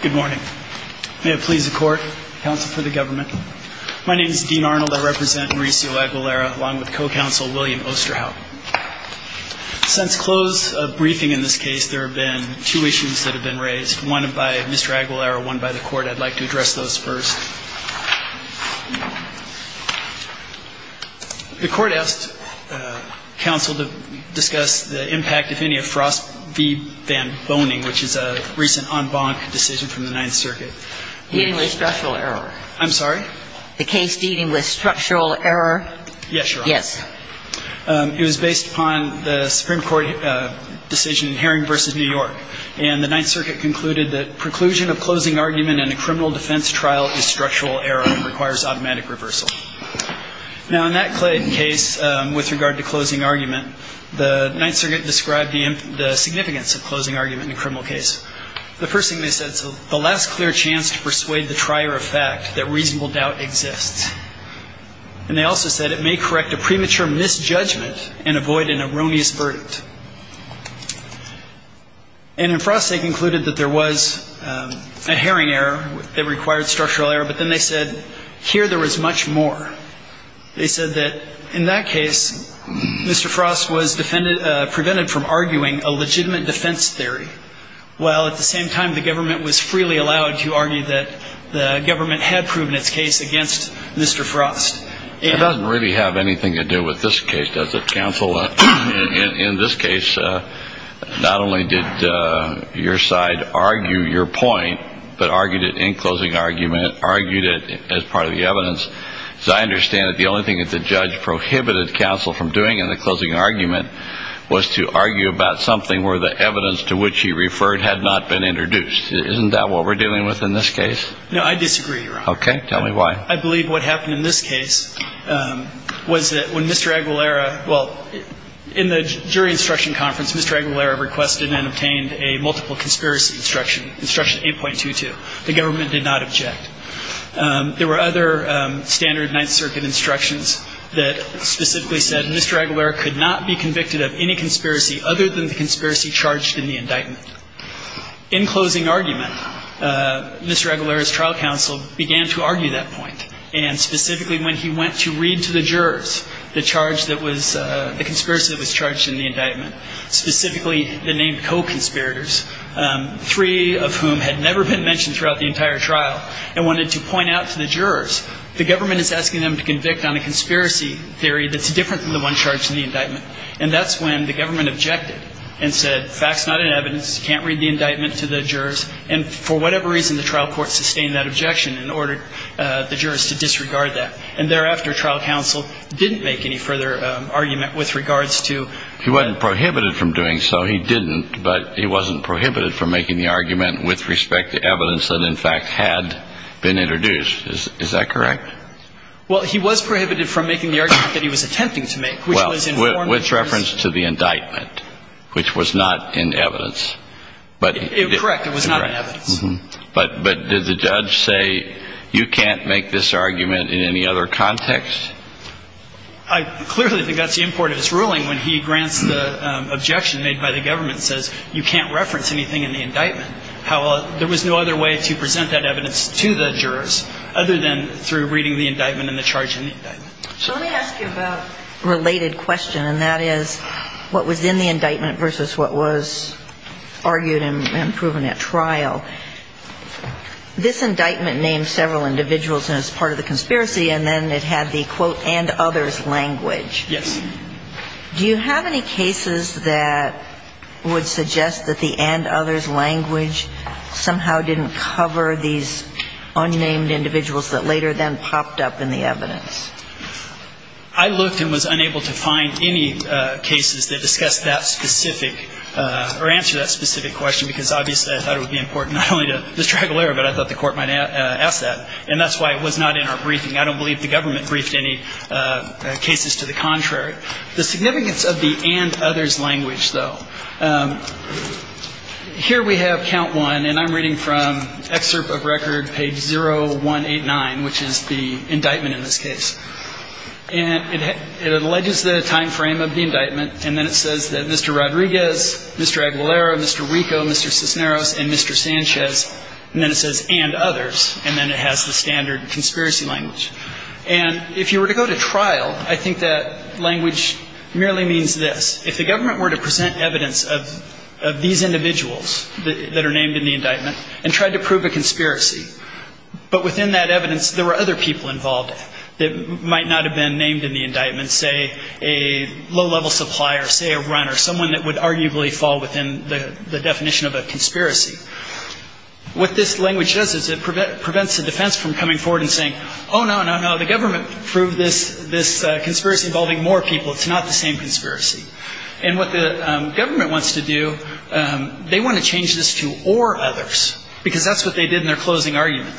Good morning. May it please the court, counsel for the government, my name is Dean Arnold, I represent Mauricio Aguilera along with co-counsel William Osterhout. Since close of briefing in this case there have been two issues that have been raised, one by Mr. Aguilera, one by the court. I'd like to address those first. The court asked counsel to discuss the impact if any of case of Ross v. Van Boning, which is a recent en banc decision from the Ninth Circuit. Deeding with structural error. I'm sorry? The case Deeding with structural error. Yes, Your Honor. Yes. It was based upon the Supreme Court decision in Herring v. New York, and the Ninth Circuit concluded that preclusion of closing argument in a criminal case had the significance of closing argument in a criminal case. The first thing they said, the last clear chance to persuade the trier of fact that reasonable doubt exists. And they also said it may correct a premature misjudgment and avoid an erroneous verdict. And in Frost they concluded that there was a Herring error that required structural error, but then they said here there was much more. They said that in that case Mr. Frost was prevented from arguing a legitimate defense theory, while at the same time the government was freely allowed to argue that the government had proven its case against Mr. Frost. It doesn't really have anything to do with this case, does it, counsel? In this case, not only did your side argue your point, but argued it in closing argument, argued it as part of the evidence. As I understand it, the only thing that the judge prohibited counsel from doing in the closing argument was to argue about something where the evidence to which he referred had not been introduced. Isn't that what we're dealing with in this case? No, I disagree, Your Honor. Okay. Tell me why. I believe what happened in this case was that when Mr. Aguilera, well, in the jury instruction conference, Mr. Aguilera requested and obtained a multiple conspiracy instruction, instruction 8.22. The government did not object. There were other standard Ninth Circuit instructions that specifically said Mr. Aguilera could not be convicted of any conspiracy other than the conspiracy charged in the indictment. In closing argument, Mr. Aguilera's trial counsel began to argue that point, and specifically when he went to read to the jurors the charge that was the conspiracy that was charged in the indictment, specifically the named co-conspirators, three of whom had never been mentioned throughout the entire trial, and wanted to point out to the jurors the government is asking them to convict on a conspiracy theory that's different than the one charged in the indictment. And that's when the government objected and said facts not in evidence, you can't read the indictment to the jurors, and for whatever reason the trial court sustained that objection and ordered the jurors to disregard that. And thereafter, trial counsel didn't make any further argument with regards to... He wasn't prohibited from doing so. He didn't, but he wasn't prohibited from making the argument with respect to evidence that, in fact, had been introduced. Is that correct? Well, he was prohibited from making the argument that he was attempting to make, which was in... Well, with reference to the indictment, which was not in evidence, but... Correct. It was not in evidence. But did the judge say, you can't make this argument in any other context? I clearly think that's the import of his ruling when he grants the objection made by the government, says you can't reference anything in the indictment. There was no other way to present that evidence to the jurors other than through reading the indictment and the charge in the indictment. So let me ask you about a related question, and that is what was in the indictment versus what was argued and proven at trial. This indictment named several individuals as part of the conspiracy, and then it had the, quote, and others language. Yes. Do you have any cases that would suggest that the and others language somehow didn't cover these unnamed individuals that later then popped up in the evidence? I looked and was unable to find any cases that discussed that specific, or answer that specific question, because obviously I thought it would be important not only to Mr. Aguilera, but I thought the Court might ask that. And that's why it was not in our briefing. I don't believe the government briefed any cases to the contrary. The significance of the and others language, though, here we have count one, and I'm reading from excerpt of record page 0189, which is the indictment in this case. And it alleges the time frame of the indictment, and then it says that Mr. Rodriguez, Mr. Aguilera, Mr. Rico, Mr. Cisneros, and Mr. Sanchez, and then it says and others, and then it has the standard conspiracy language. And if you were to go to trial, I think that language merely means this. If the government were to present evidence of these individuals that are named in the indictment and tried to prove a conspiracy, but within that evidence there were other people involved that might not have been named in the indictment, say a low level supplier, say a runner, someone that would arguably fall within the definition of a conspiracy, what this language does is it prevents the defense from coming forward and saying, oh, no, no, no, the government proved this conspiracy involving more people. It's not the same conspiracy. And what the government wants to do, they want to change this to or others, because that's what they did in their closing argument.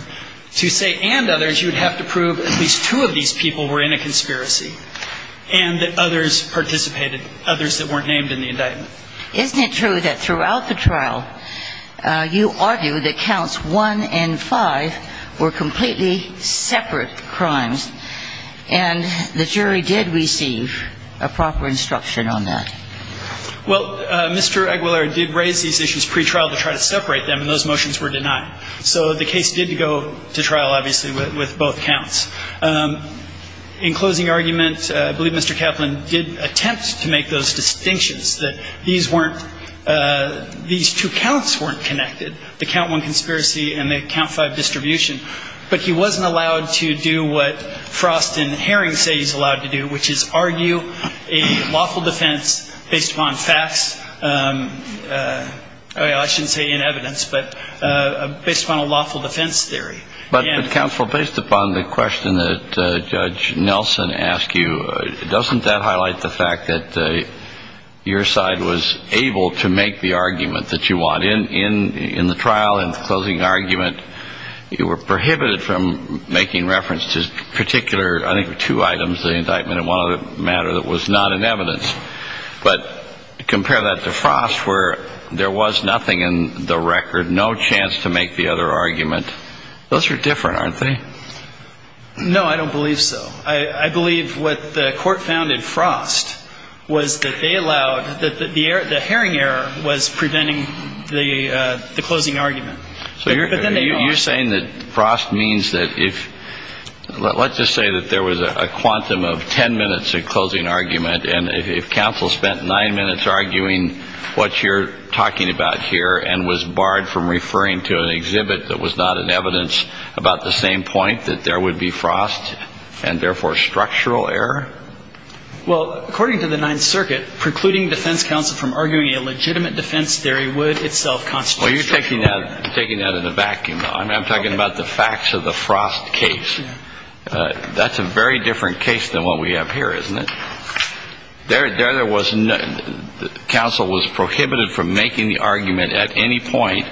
To say and others, you would have to prove at least two of these people were in a conspiracy and that others participated, others that weren't named in the indictment. Isn't it true that throughout the trial you argue that counts one and five were completely separate crimes, and the jury did receive a proper instruction on that? Well, Mr. Aguilar did raise these issues pretrial to try to separate them, and those motions were denied. So the case did go to trial, obviously, with both counts. In closing argument, I believe Mr. Kaplan did attempt to make those distinctions, that these weren't, these two counts weren't connected, the count five distribution. But he wasn't allowed to do what Frost and Herring say he's allowed to do, which is argue a lawful defense based upon facts. I shouldn't say in evidence, but based upon a lawful defense theory. But, Counselor, based upon the question that Judge Nelson asked you, doesn't that highlight the fact that your side was able to make the argument that you want? In the trial, in the closing argument, you were prohibited from making reference to particular, I think two items, the indictment and one other matter that was not in evidence. But compare that to Frost, where there was nothing in the record, no chance to make the other argument. Those are different, aren't they? No, I don't believe so. I believe what the Court found in Frost was that they were, was preventing the closing argument. So you're saying that Frost means that if, let's just say that there was a quantum of ten minutes of closing argument, and if Counsel spent nine minutes arguing what you're talking about here and was barred from referring to an exhibit that was not in evidence about the same point, that there would be Frost and therefore structural error? Well, according to the Ninth Circuit, precluding defense counsel from arguing a legitimate defense theory would itself constitute structural error. Well, you're taking that in a vacuum. I'm talking about the facts of the Frost case. That's a very different case than what we have here, isn't it? There there was no, Counsel was prohibited from making the argument at any point,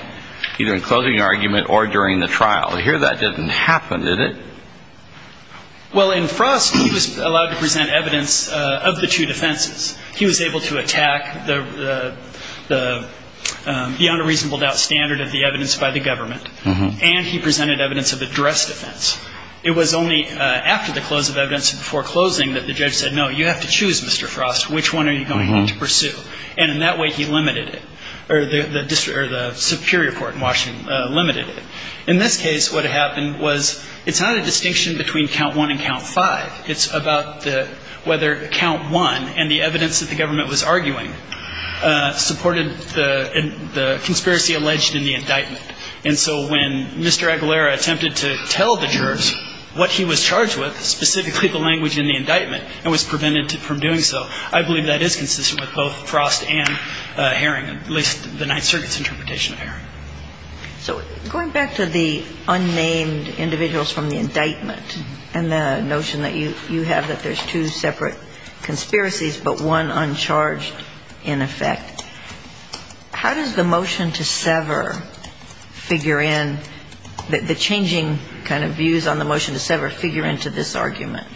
either in closing argument or during the trial. Here that didn't happen, did it? Well, in Frost, he was allowed to present evidence of the two defenses. He was able to attack the beyond a reasonable doubt standard of the evidence by the government, and he presented evidence of addressed defense. It was only after the close of evidence and before closing that the judge said, no, you have to choose, Mr. Frost, which one are you going to pursue? And in that way, he limited it, or the Superior Court in Washington limited it. In this case, what happened was, it's not a distinction between count one and count five. It's about whether count one and the evidence that the government was arguing supported the conspiracy alleged in the indictment. And so when Mr. Aguilera attempted to tell the jurors what he was charged with, specifically the language in the indictment, and was prevented from doing so, I believe that is consistent with both Frost and Herring, at least the Ninth Circuit's interpretation of Herring. So going back to the unnamed individuals from the indictment and the notion that you have that there's two separate conspiracies, but one uncharged in effect, how does the motion to sever figure in, the changing kind of views on the motion to sever figure into this argument?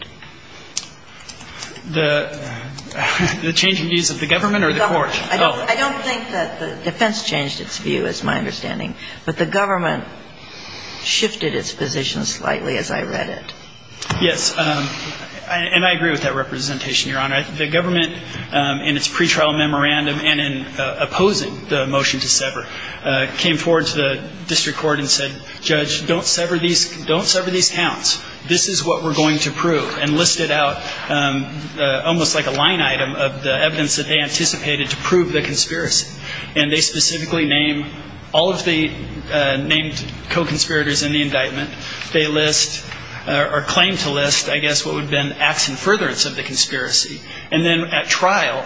The changing views of the government or the court? I don't think that the defense changed its view, is my understanding. But the government shifted its position slightly as I read it. Yes. And I agree with that representation, Your Honor. The government, in its pretrial memorandum and in opposing the motion to sever, came forward to the district court and said, Judge, don't sever these counts. This is what we're going to prove. And listed out almost like a line item of the evidence that they anticipated to prove the conspiracy. And they specifically name all of the named co-conspirators in the indictment. They list or claim to list, I guess, what would have been acts in furtherance of the conspiracy. And then at trial,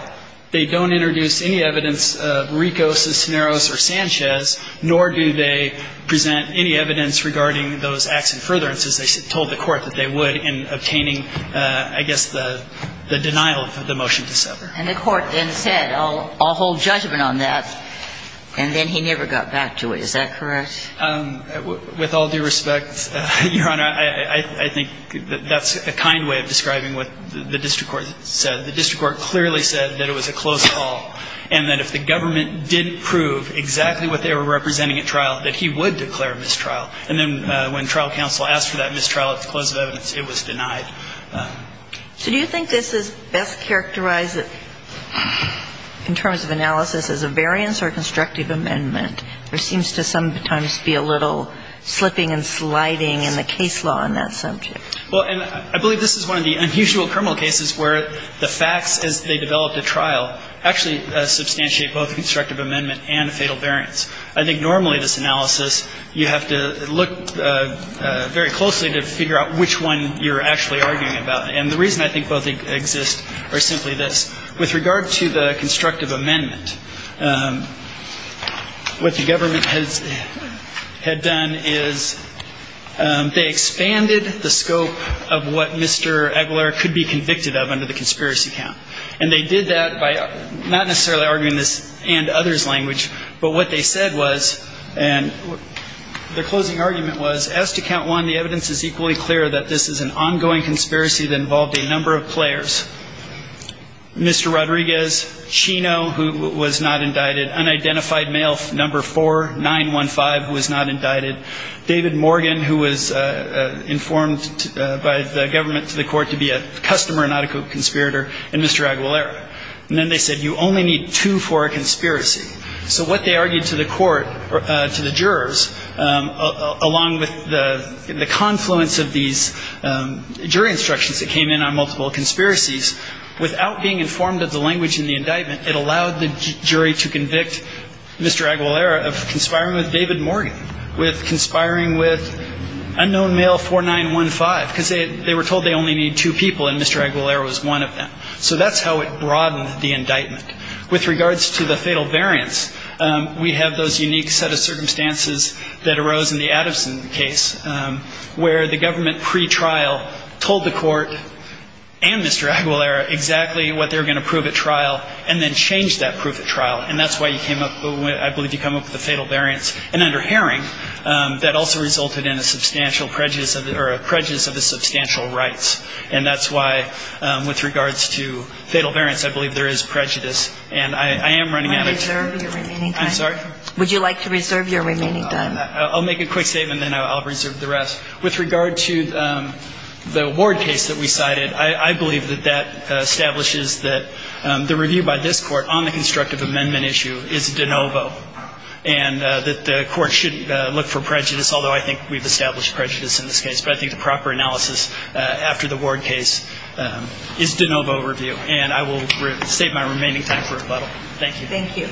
they don't introduce any evidence of Ricos, Cisneros, or Sanchez, nor do they present any evidence regarding those acts in furtherance as they told the court that they would in obtaining, I guess, the denial of the motion to sever. And the court then said, I'll hold judgment on that. And then he never got back to it. Is that correct? With all due respect, Your Honor, I think that that's a kind way of describing what the district court said. The district court clearly said that it was a close call, and that if the government didn't prove exactly what they were representing at trial, that he would declare a mistrial. And then when trial counsel asked for that mistrial at the close of evidence, it was denied. So do you think this is best characterized in terms of analysis as a variance or constructive amendment? There seems to sometimes be a little slipping and sliding in the case law on that subject. Well, and I believe this is one of the unusual criminal cases where the facts as they developed at trial actually substantiate both constructive amendment and fatal variance. I think normally this analysis, you have to look very closely to figure out which one you're actually arguing about. And the reason I think both exist are simply this. With regard to the constructive amendment, what the government had done is they expanded the scope of what Mr. Aguilar could be convicted of under the conspiracy count. And they did that by not necessarily arguing this and others' language, but what they said was, and their closing argument was, as to count one, the evidence is equally clear that this is an ongoing conspiracy that involved a Mr. Rodriguez, Chino, who was not indicted, unidentified male number 4915, who was not indicted, David Morgan, who was informed by the government to the court to be a customer and not a co-conspirator, and Mr. Aguilar. And then they said, you only need two for a conspiracy. So what they argued to the court, to the jurors, along with the confluence of these jury instructions that came in on multiple conspiracies, without being informed of the language in the indictment, it allowed the jury to convict Mr. Aguilar of conspiring with David Morgan, with conspiring with unknown male 4915, because they were told they only need two people and Mr. Aguilar was one of them. So that's how it broadened the indictment. With regards to the fatal variance, we have those unique set of circumstances that arose in the Addison case, where the government pre-trial told the court and Mr. Aguilar exactly what they were going to prove at trial, and then changed that proof at trial. And that's why you came up with, I believe you came up with the fatal variance. And under Haring, that also resulted in a substantial prejudice of the, or a prejudice of the substantial rights. And that's why, with regards to fatal variance, I believe there is prejudice. And I am running out of time. Would you like to reserve your remaining time? I'm sorry? Would you like to reserve your remaining time? I'll make a quick statement, then I'll reserve the rest. With regard to the ward case that we cited, I believe that that establishes that the review by this court on the constructive amendment issue is de novo. And that the court shouldn't look for prejudice, although I think we've established prejudice in this case. But I think the proper analysis after the ward case is de novo review. And I will save my remaining time for rebuttal. Thank you. Thank you.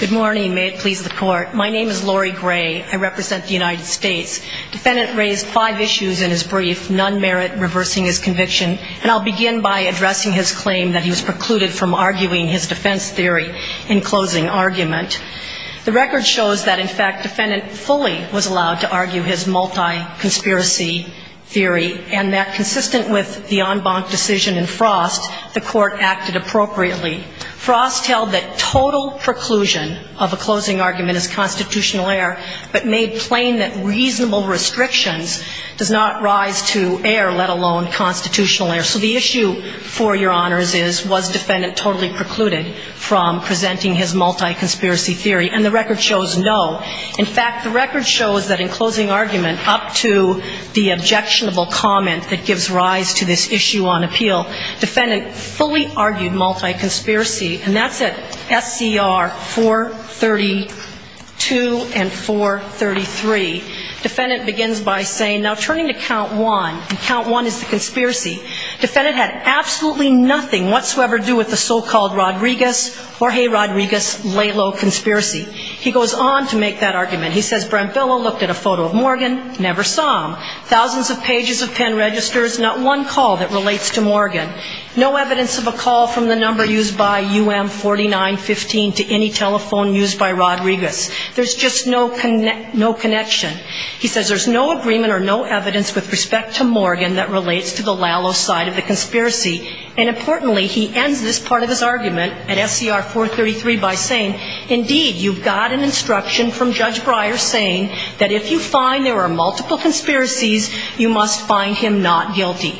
Good morning. May it please the court. My name is Lori Gray. I represent the United States. Defendant raised five issues in his brief, none merit reversing his conviction. And I'll begin by addressing his claim that he was precluded from arguing his defense theory in closing argument. The record shows that, in fact, defendant fully was allowed to argue his multi- conspiracy theory. And the record shows, no. In fact, the record shows that in objectionable argument, the court acted appropriately. Frost held that total preclusion of a closing argument is constitutional error, but made plain that reasonable restrictions does not rise to error, let alone constitutional error. So the issue for your honors is, was defendant totally precluded from presenting his multi-conspiracy theory? And the record shows, no. In fact, the record shows that in closing argument, up to the objectionable comment that gives rise to this issue on appeal, defendant fully argued multi-conspiracy, and that's at SCR 432 and 433. Defendant begins by saying, now turning to count one, and count one is the conspiracy, defendant had absolutely nothing whatsoever to do with the so-called Rodriguez, Jorge Rodriguez, Lalo conspiracy. He goes on to make that argument. He says Brent Billow looked at a photo of Morgan, never saw him. Thousands of pages of pen registers, not one call that relates to Morgan. No evidence of a call from the number used by UM4915 to any telephone used by Rodriguez. There's just no connection. He says there's no agreement or no evidence with respect to Morgan that relates to the Lalo side of the conspiracy. And importantly, he ends this part of his argument at SCR 433 by saying, indeed, you've got an instruction from Judge Breyer saying that if you find there are multiple conspiracies, you're not guilty.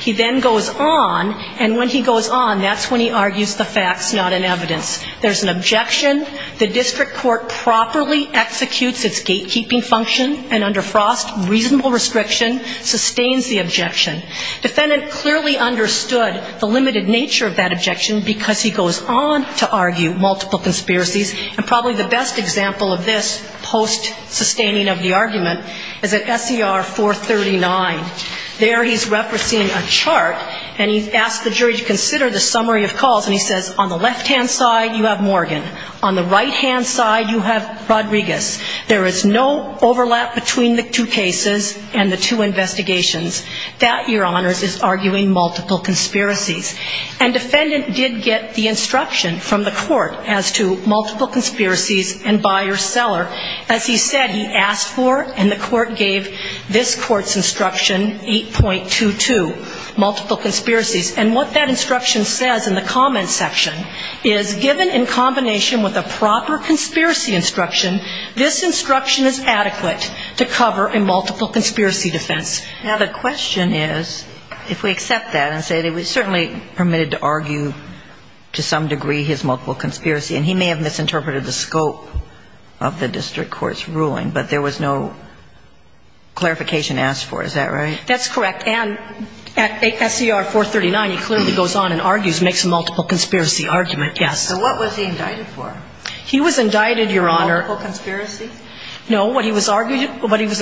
He then goes on, and when he goes on, that's when he argues the facts, not an evidence. There's an objection. The district court properly executes its gatekeeping function, and under Frost, reasonable restriction sustains the objection. Defendant clearly understood the limited nature of that objection because he goes on to argue multiple conspiracies, and probably the best example of this, post-sustaining of the argument, is at SCR 439. There's under Frost, reasonable restriction sustains the objection. Defendant goes on to argue multiple conspiracies. And there he's referencing a chart, and he's asked the jury to consider the summary of calls, and he says on the left- hand side, you have Morgan. On the right-hand side, you have Rodriguez. There is no overlap between the two cases and the two investigations. That, Your Honors, is arguing multiple conspiracies. And defendant did get the instruction from the court as to multiple conspiracies and buyer-seller. As he said, he asked for, and the court gave this court's instruction, 8.1, and the court gave 8.22, multiple conspiracies. And what that instruction says in the comment section is, given in combination with a proper conspiracy instruction, this instruction is adequate to cover a multiple conspiracy defense. Now, the question is, if we accept that and say that it was certainly permitted to argue to some degree his multiple conspiracy, and he may have misinterpreted the scope of the district court's ruling, but there was no clarification multiple conspiracies. And at SCR 439, he clearly goes on and argues, makes a multiple conspiracy argument, yes. So what was he indicted for? He was indicted, Your Honor. Multiple conspiracies? No, what he was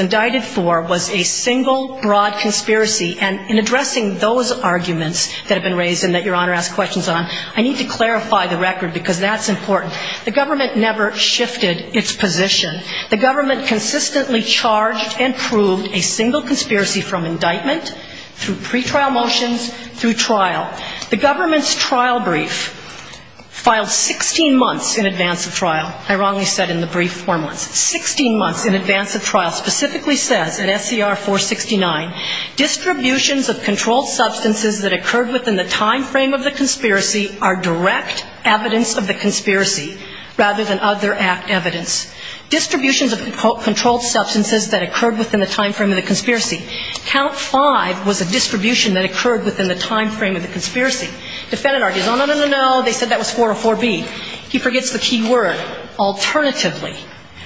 indicted for was a single, broad conspiracy. And in addressing those arguments that have been raised and that Your Honor asked questions on, I need to clarify the record, because that's important. The government never conspiracy from indictment, and the government never shifted its position. Through pretrial motions, through trial. The government's trial brief filed 16 months in advance of trial. I wrongly said in the brief four months. 16 months in advance of trial specifically says at SCR 469, distributions of controlled substances that occurred within the time frame of the conspiracy are direct evidence of the conspiracy rather than other act evidence. Distributions of controlled substances that occurred within the time frame of So the government's argument was a distribution that occurred within the time frame of the conspiracy. Defendant argues, no, no, no, no, no, they said that was 404B. He forgets the key word, alternatively.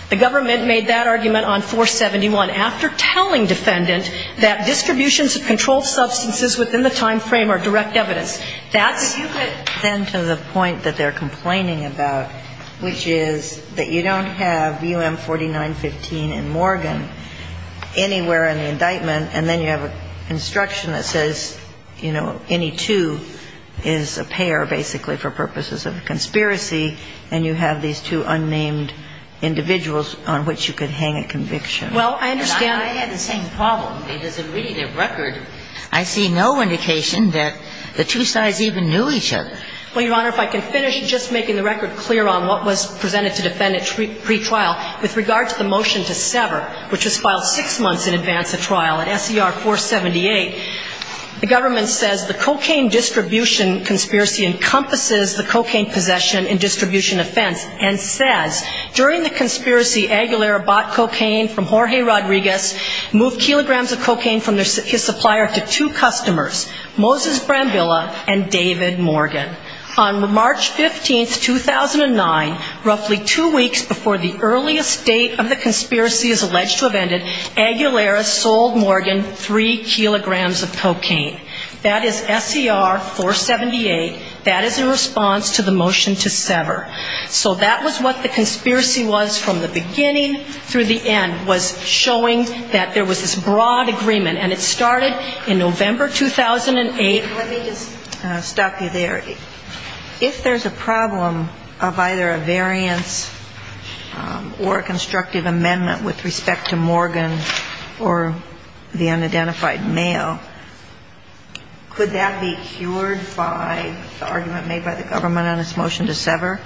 The government made that argument on 471 after telling defendant that distributions of controlled substances within the time frame are direct evidence. That's the point. But you get then to the point that they're complaining about, which is that you don't have UM4915 and Morgan anywhere in the indictment, and then you have a conspiracy that's not a conspiracy. You have an instruction that says, you know, any two is a pair, basically, for purposes of a conspiracy, and you have these two unnamed individuals on which you could hang a conviction. And I had the same problem, because in reading the record, I see no indication that the two sides even knew each other. Well, Your Honor, if I can finish just making the record clear on what was presented to defendant pre-trial with regard to the motion to sever, which was filed six weeks before the earliest date of the conspiracy is alleged to have ended, And the government says, the cocaine distribution conspiracy encompasses the cocaine possession and distribution offense, and says, during the conspiracy, Aguilera bought cocaine from Jorge Rodriguez, moved kilograms of cocaine from his supplier to two customers, Moses Brambilla and David Morgan. On March 15, 2009, roughly two weeks before the earliest date of the conspiracy is alleged to have ended, Aguilera sold Morgan three kilograms of cocaine. That is SCR-478. That is in response to the motion to sever. So that was what the conspiracy was from the beginning through the end, was showing that there was this broad agreement. And it started in November 2008. Let me just stop you there. If there's a problem of either a variance or a constructive amendment with respect to Morgan or the unidentified male, could that be cured by the argument made by the government on this motion to sever?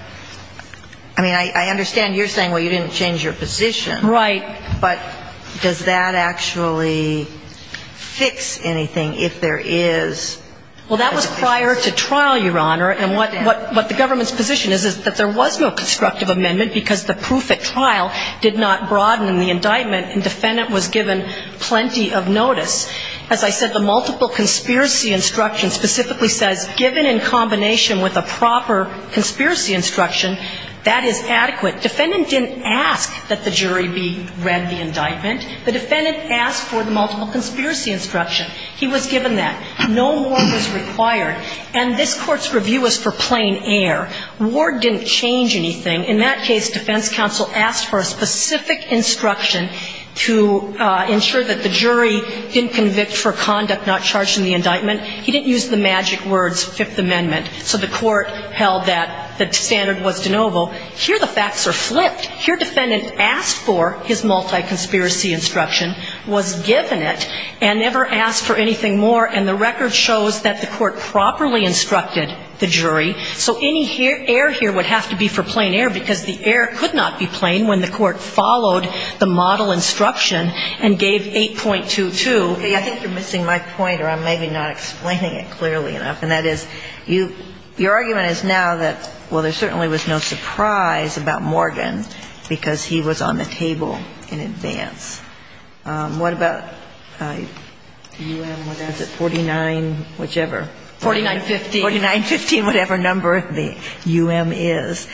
I mean, I understand you're saying, well, you didn't change your position. Right. But does that actually fix anything if there is? Well, that was prior to trial, Your Honor. And what the government's position is, is that there was no constructive amendment because the proof at trial did not broaden the indictment and the defendant was given plenty of notice. As I said, the multiple conspiracy instruction specifically says given in combination with a proper conspiracy instruction, that is adequate. The defendant didn't ask that the jury be read the indictment. The defendant asked for the multiple conspiracy instruction. He was given that. No more was required. And this Court's review was for plain air. Ward didn't change anything. In that case, defense counsel asked for a specific instruction to ensure that the jury didn't convict for conduct not charged in the indictment. He didn't use the magic words, Fifth Amendment. So the Court held that the standard was de novo. Here the facts are flipped. Here defendant asked for his multi-conspiracy instruction, was given it, and never asked for anything more. And the record shows that the Court properly instructed the jury. So any air here would have to be for plain air because the air could not be plain when the Court followed the model instruction and gave 8.22. I think you're missing my point, or I'm maybe not explaining it clearly enough. And that is, your argument is now that, well, there certainly was no surprise about Morgan because he was on the table in advance. What about UM, what is it, 49, whichever? 4915. 4915, whatever number the UM is.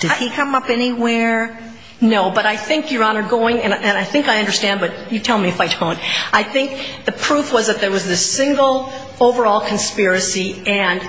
Did he come up anywhere? No. But I think, Your Honor, going, and I think I understand, but you tell me if I don't. I think the proof was that there was this single overall conspiracy and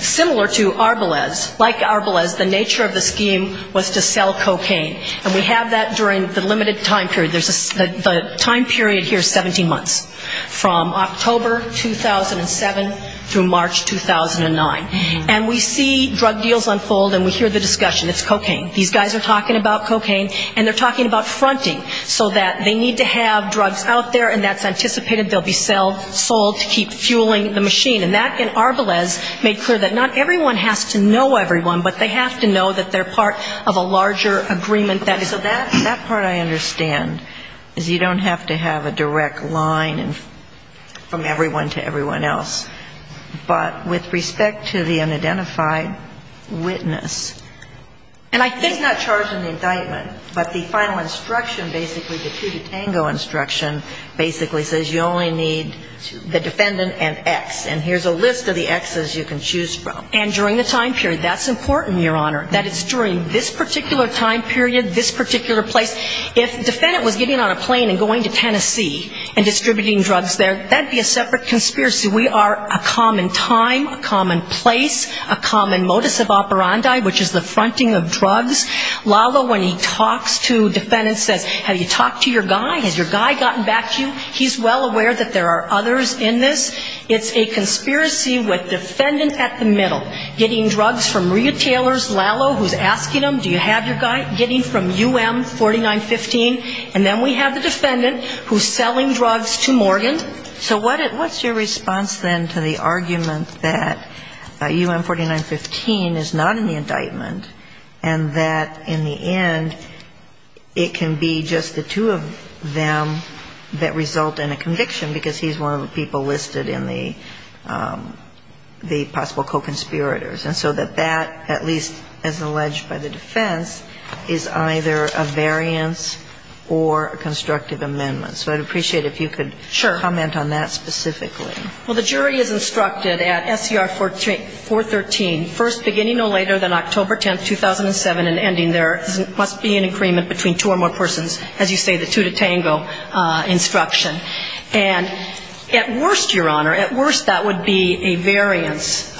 similar to Arbelez, like Arbelez, the nature of the scheme was to sell cocaine. And we have that during the limited time period. The time period here is 17 months, from October 2007 through March 2009. And we see drug deals unfold and we hear the discussion. It's cocaine. These guys are talking about cocaine and they're talking about fronting so that they need to have drugs out there and that's anticipated they'll be sold to keep fueling the machine. And that, in Arbelez, made clear that not everyone has to know everyone, but they have to know that they're part of a larger agreement. So that part I understand is you don't have to have a direct line from everyone to everyone else. But with respect to the unidentified witness, he's not charged in the indictment, but the final instruction, basically the two to tango instruction, basically says you only need the defendant and X. And here's a list of the Xs you can choose from. And during the time period, that's important, Your Honor. That it's during this particular time period, this particular place. If the defendant was getting on a plane and going to Tennessee and distributing drugs there, that would be a separate conspiracy. We are a common time, a common place, a common modus operandi, which is the fronting of drugs. Lalo, when he talks to defendants, says, have you talked to your guy? Has your guy gotten back to you? He's well aware that there are others in this. It's a conspiracy with defendant at the middle getting drugs from Maria Taylor's Lalo, who's asking him, do you have your guy, getting from UM4915. And then we have the defendant who's selling drugs to Morgan. So what's your response then to the argument that UM4915 is not in the indictment and that in the end it can be just the two of them that result in a conviction because he's one of the people listed in the possible co-conspirators. And so that, at least as alleged by the defense, is either a variance or a constructive amendment. So I'd appreciate if you could comment on that specifically. Well, the jury is instructed at SCR 413, first, beginning no later than October 10th, 2007, and ending there, must be an agreement between two or more persons, as you say, the two to tango instruction. And at worst, Your Honor, at worst that would be a variance.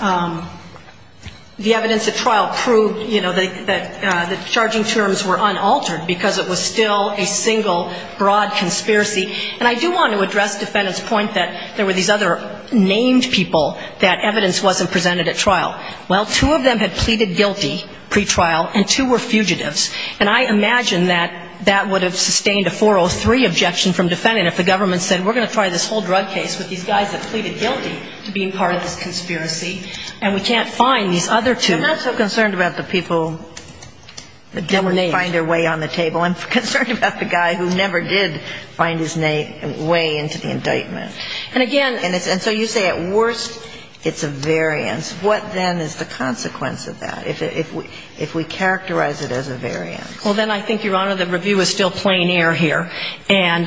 The evidence at trial proved, you know, that the charging terms were unaltered because it was still a single broad conspiracy. And I do want to address defendant's point that there were these other named people that evidence wasn't presented at trial. Well, two of them had pleaded guilty pretrial and two were fugitives. And I imagine that that would have sustained a 403 objection from defendant if the government said we're going to try this whole drug case with these guys that pleaded guilty to being part of this conspiracy and we can't find these other two. I'm not so concerned about the people that didn't find their way on the table. I'm concerned about the guy who never did find his way into the indictment. And again — And so you say at worst it's a variance. What then is the consequence of that if we characterize it as a variance? Well, then I think, Your Honor, the review is still plain air here. And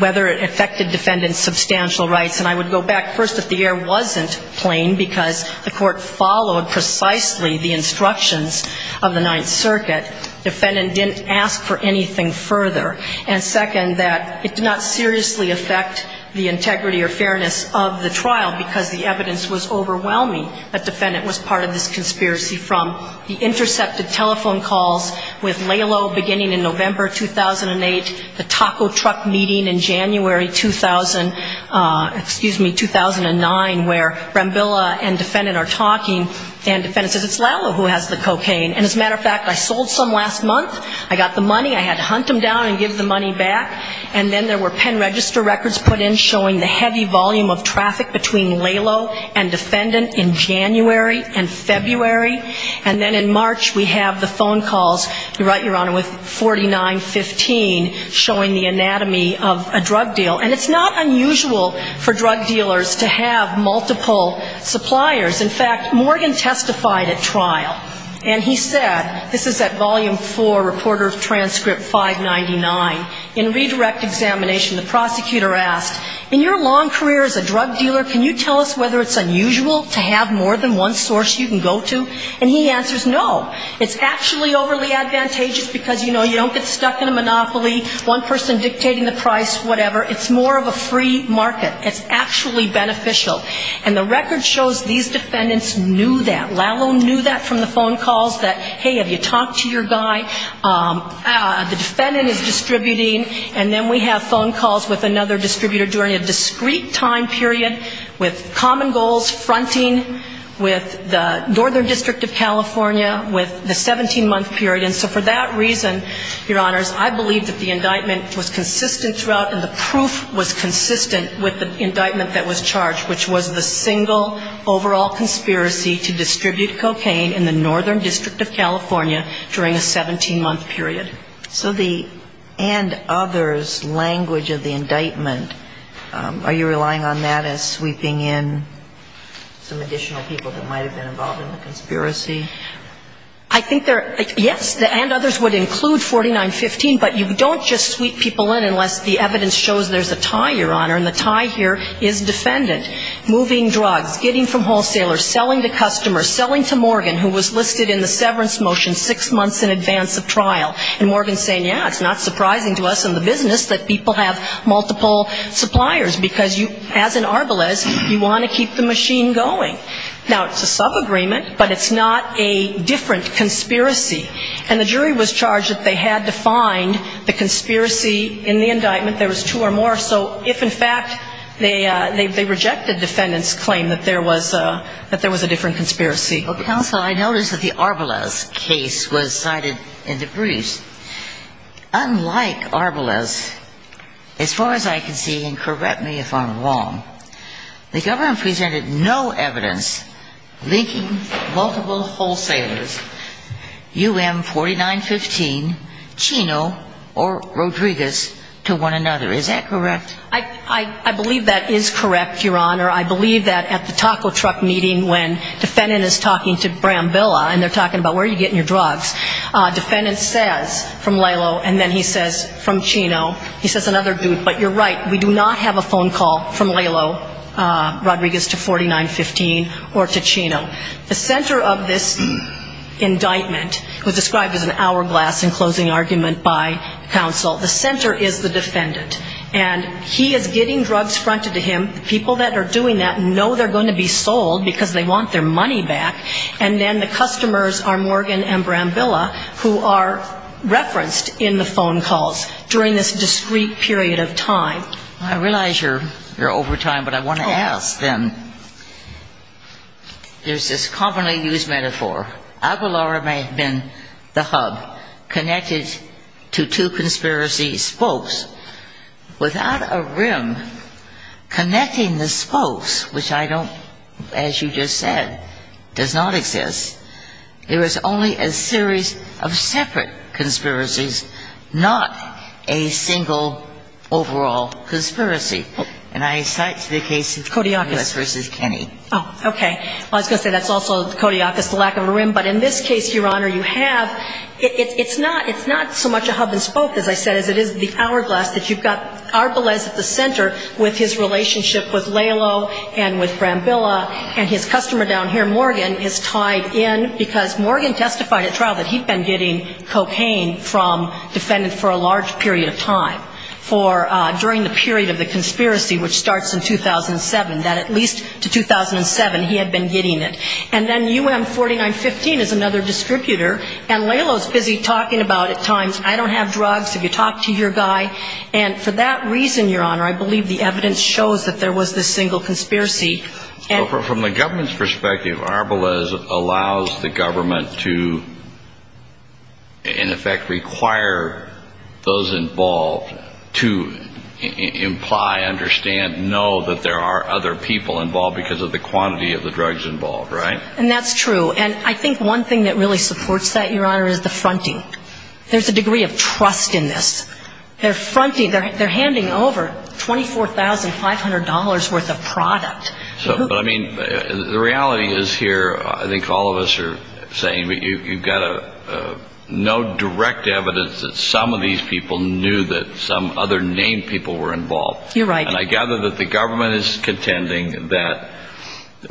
whether it affected defendant's substantial rights, and I would go back. First, if the air wasn't plain because the court followed precisely the instructions of the Ninth Circuit, defendant didn't ask for anything further. And second, that it did not seriously affect the integrity or fairness of the trial because the evidence was overwhelming that defendant was part of this conspiracy from the intercepted telephone calls with Lalo beginning in November 2008, the taco truck meeting in January 2000 — excuse me, 2009, where Rambilla and defendant are talking and defendant says it's Lalo who has the cocaine. And as a matter of fact, I sold some last month. I got the money. I had to hunt them down and give the money back. And then there were pen register records put in showing the heavy volume of traffic between Lalo and defendant in January and February. And then in March we have the phone calls, Your Honor, with 4915 showing the anatomy of a drug deal. And it's not unusual for drug dealers to have multiple suppliers. In fact, Morgan testified at trial. And he said — this is at volume four, reporter of transcript 599 — the prosecutor asked, in your long career as a drug dealer, can you tell us whether it's unusual to have more than one source you can go to? And he answers no. It's actually overly advantageous because, you know, you don't get stuck in a monopoly, one person dictating the price, whatever. It's more of a free market. It's actually beneficial. And the record shows these defendants knew that. Lalo knew that from the phone calls that, hey, have you talked to your guy? The defendant is distributing. And then we have phone calls with another distributor during a discrete time period with common goals, fronting with the Northern District of California with the 17-month period. And so for that reason, Your Honors, I believe that the indictment was consistent throughout and the proof was consistent with the indictment that was charged, which was the single overall conspiracy to distribute cocaine in the Northern District of California during a 17-month period. So the and others language of the indictment, are you relying on that as sweeping in some additional people that might have been involved in the conspiracy? I think there — yes, the and others would include 4915, but you don't just sweep people in unless the evidence shows there's a tie, Your Honor, and the tie here is defendant. Moving drugs, getting from wholesalers, selling to customers, selling to Morgan who was listed in the severance motion six months in advance of trial. And Morgan's saying, yeah, it's not surprising to us in the business that people have multiple suppliers because you, as in Arbelez, you want to keep the machine going. Now, it's a subagreement, but it's not a different conspiracy. And the jury was charged that they had to find the conspiracy in the indictment. There was two or more. So if, in fact, they rejected defendant's claim that there was a different conspiracy. Counsel, I noticed that the Arbelez case was cited in the briefs. Unlike Arbelez, as far as I can see, and correct me if I'm wrong, the government presented no evidence linking multiple wholesalers, UM4915, Chino, or Rodriguez, to one another. Is that correct? I believe that is correct, Your Honor. I believe that at the taco truck meeting when defendant is talking to Brambilla and they're talking about where are you getting your drugs, defendant says from Lalo and then he says from Chino, he says another dude. But you're right, we do not have a phone call from Lalo Rodriguez to 4915 or to Chino. The center of this indictment was described as an hourglass in closing argument by counsel. The center is the defendant. And he is getting drugs fronted to him. The people that are doing that know they're going to be sold because they want their money back. And then the customers are Morgan and Brambilla who are referenced in the phone calls during this discrete period of time. I realize you're over time, but I want to ask then, there's this commonly used metaphor. Aguilar may have been the hub connected to two conspiracy spokes. Without a rim connecting the spokes, which I don't, as you just said, does not exist, there is only a series of separate conspiracies, not a single overall conspiracy. And I cite the case of Codiacus v. Kenney. Oh, okay. I was going to say that's also Codiacus, the lack of a rim. But in this case, Your Honor, you have. It's not so much a hub and spoke, as I said, as it is the hourglass that you've got Arbelez at the center with his relationship with Lalo and with Brambilla. And his customer down here, Morgan, is tied in because Morgan testified at trial that he'd been getting cocaine from defendants for a large period of time, for during the period of the conspiracy which starts in 2007, that at least to 2007 he had been getting it. And then UM4915 is another distributor. And Lalo's busy talking about at times, I don't have drugs, if you talk to your guy. And for that reason, Your Honor, I believe the evidence shows that there was this single conspiracy. From the government's perspective, Arbelez allows the government to in effect require those involved to imply, understand, know that there are other people involved because of the quantity of the drugs involved, right? And that's true. And I think one thing that really supports that, Your Honor, is the fronting. There's a degree of trust in this. They're fronting. They're handing over $24,500 worth of product. But, I mean, the reality is here, I think all of us are saying, but you've got no direct evidence that some of these people knew that some other named people were involved. You're right. And I gather that the government is contending that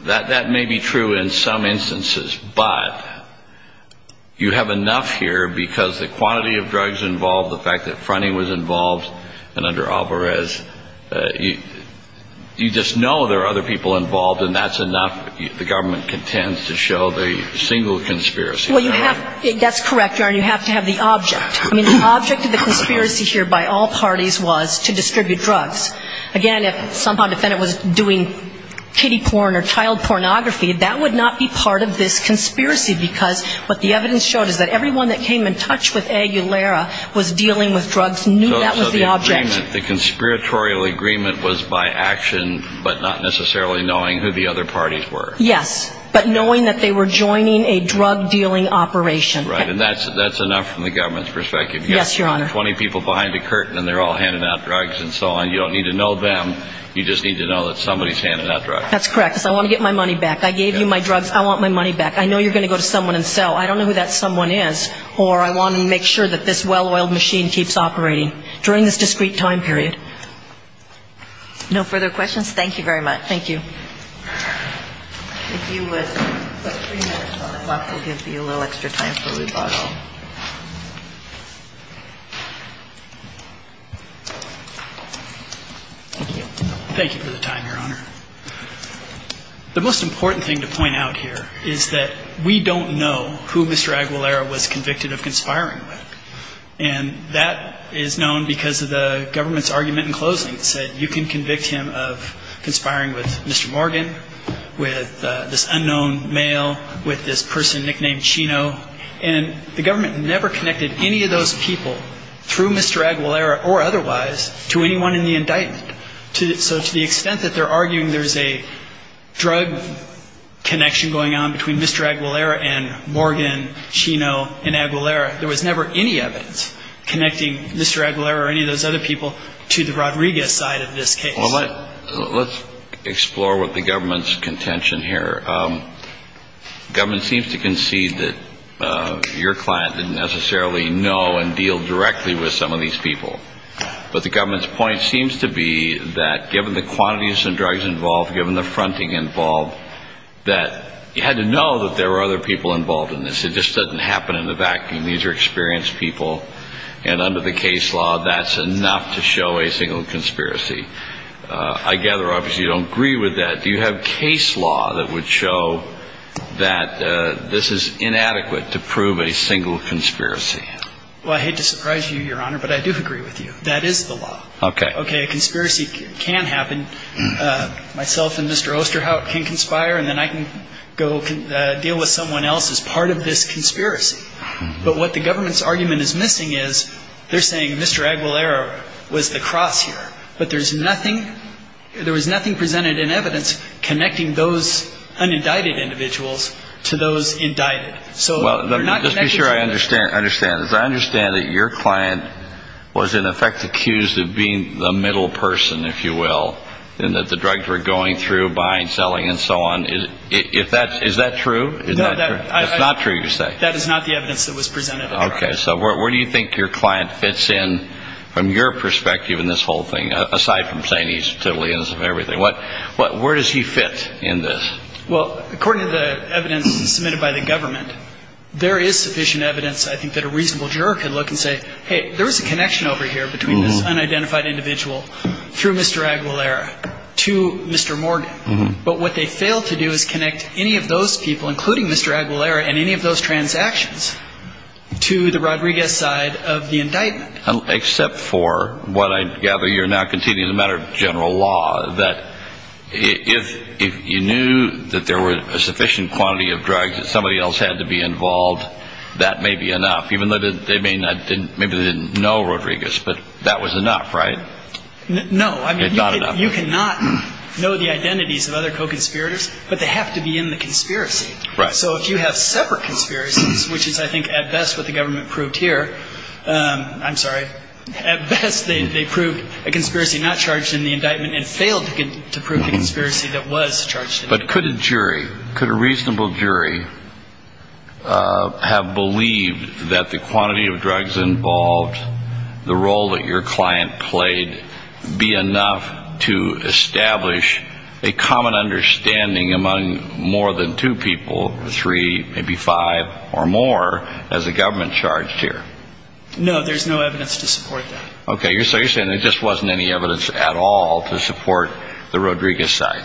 that may be true in some instances, but you have enough here because the quantity of drugs involved, the fact that fronting was involved, and under Arbelez, you just know there are other people involved and that's enough. The government contends to show the single conspiracy. Well, you have, that's correct, Your Honor. You have to have the object. I mean, the object of the conspiracy here by all parties was to distribute drugs. Again, if somehow a defendant was doing kiddie porn or child pornography, that would not be part of this conspiracy because what the evidence showed is that everyone that came in touch with Aguilera was dealing with drugs, knew that was the object. So the agreement, the conspiratorial agreement was by action but not necessarily knowing who the other parties were. Yes. But knowing that they were joining a drug-dealing operation. Right. And that's enough from the government's perspective. Yes, Your Honor. You have 20 people behind a curtain and they're all handing out drugs and so on. You don't need to know them. You just need to know that somebody's handing out drugs. That's correct because I want to get my money back. I gave you my drugs. I want my money back. I know you're going to go to someone and sell. I don't know who that someone is or I want to make sure that this well-oiled machine keeps operating during this discrete time period. No further questions? Thank you very much. Thank you. Thank you for the time, Your Honor. The most important thing to point out here is that we don't know who Mr. Aguilera was convicted of conspiring with. And that is known because of the government's argument in closing. It said you can convict him of conspiring with Mr. Mackey. with this unknown male, with this person nicknamed Chino, and the government never connected any of those people through Mr. Aguilera or otherwise to anyone in the indictment. So to the extent that they're arguing there's a drug connection going on between Mr. Aguilera and Morgan, Chino, and Aguilera, there was never any evidence connecting Mr. Aguilera or any of those other people to the Rodriguez side of this case. Well, let's explore what the government's contention here. The government seems to concede that your client didn't necessarily know and deal directly with some of these people. But the government's point seems to be that given the quantities of drugs involved, given the fronting involved, that you had to know that there were other people involved in this. It just doesn't happen in a vacuum. These are experienced people. And under the case law, that's enough to show a single conspiracy. I gather, obviously, you don't agree with that. Do you have case law that would show that this is inadequate to prove a single conspiracy? Well, I hate to surprise you, Your Honor, but I do agree with you. That is the law. Okay. Okay, a conspiracy can happen. Myself and Mr. Osterhout can conspire, and then I can go deal with someone else as part of this conspiracy. But what the government's argument is missing is they're saying Mr. Aguilera was the cross here. But there's nothing presented in evidence connecting those unindicted individuals to those indicted. So they're not connected to anybody. Well, just to be sure I understand. As I understand it, your client was, in effect, accused of being the middle person, if you will, in that the drugs were going through, buying, selling, and so on. Is that true? No. It's not true, you say? That is not the evidence that was presented. Okay. So where do you think your client fits in from your perspective in this whole thing, aside from saying he's totally innocent of everything? Where does he fit in this? Well, according to the evidence submitted by the government, there is sufficient evidence, I think, that a reasonable juror could look and say, hey, there is a connection over here between this unidentified individual through Mr. Aguilera to Mr. Morgan. But what they failed to do is connect any of those people, including Mr. Aguilera, and any of those transactions to the Rodriguez side of the indictment. Except for what I gather you're now conceding as a matter of general law, that if you knew that there was a sufficient quantity of drugs that somebody else had to be involved, that may be enough, even though they may not have been ñ maybe they didn't know Rodriguez. But that was enough, right? No. It's not enough. You cannot know the identities of other co-conspirators, but they have to be in the conspiracy. Right. So if you have separate conspiracies, which is, I think, at best what the government proved here ñ I'm sorry. At best they proved a conspiracy not charged in the indictment and failed to prove the conspiracy that was charged in the indictment. But could a jury, could a reasonable jury, have believed that the quantity of drugs involved, the role that your client played, be enough to establish a common understanding among more than two people, three, maybe five or more, as the government charged here? No. There's no evidence to support that. Okay. So you're saying there just wasn't any evidence at all to support the Rodriguez side.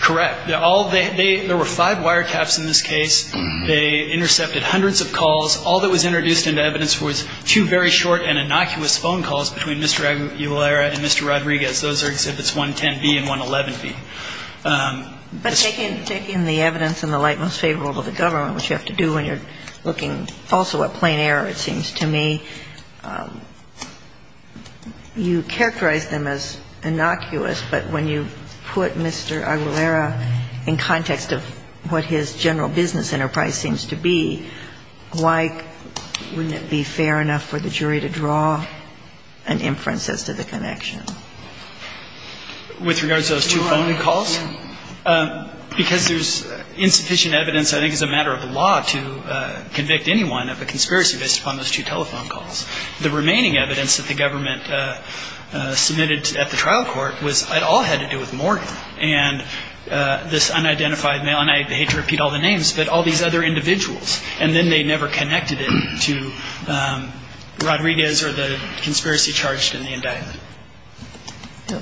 Correct. There were five wiretaps in this case. They intercepted hundreds of calls. All that was introduced into evidence was two very short and innocuous phone calls between Mr. Aguilera and Mr. Rodriguez. Those are Exhibits 110B and 111B. But taking the evidence in the light most favorable to the government, which you have to do when you're looking also at plain error, it seems to me, you characterize them as innocuous. But when you put Mr. Aguilera in context of what his general business enterprise seems to be, why wouldn't it be fair enough for the jury to draw an inference as to the connection? With regards to those two phone calls? Because there's insufficient evidence, I think, as a matter of the law, to convict anyone of a conspiracy based upon those two telephone calls. The remaining evidence that the government submitted at the trial court was, it all had to do with Morgan. And this unidentified male, and I hate to repeat all the names, but all these other individuals. And then they never connected it to Rodriguez or the conspiracy charged in the indictment.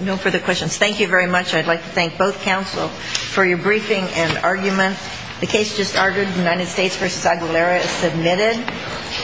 No further questions. Thank you very much. I'd like to thank both counsel for your briefing and argument. The case just ordered, United States v. Aguilera, is submitted. Thank you.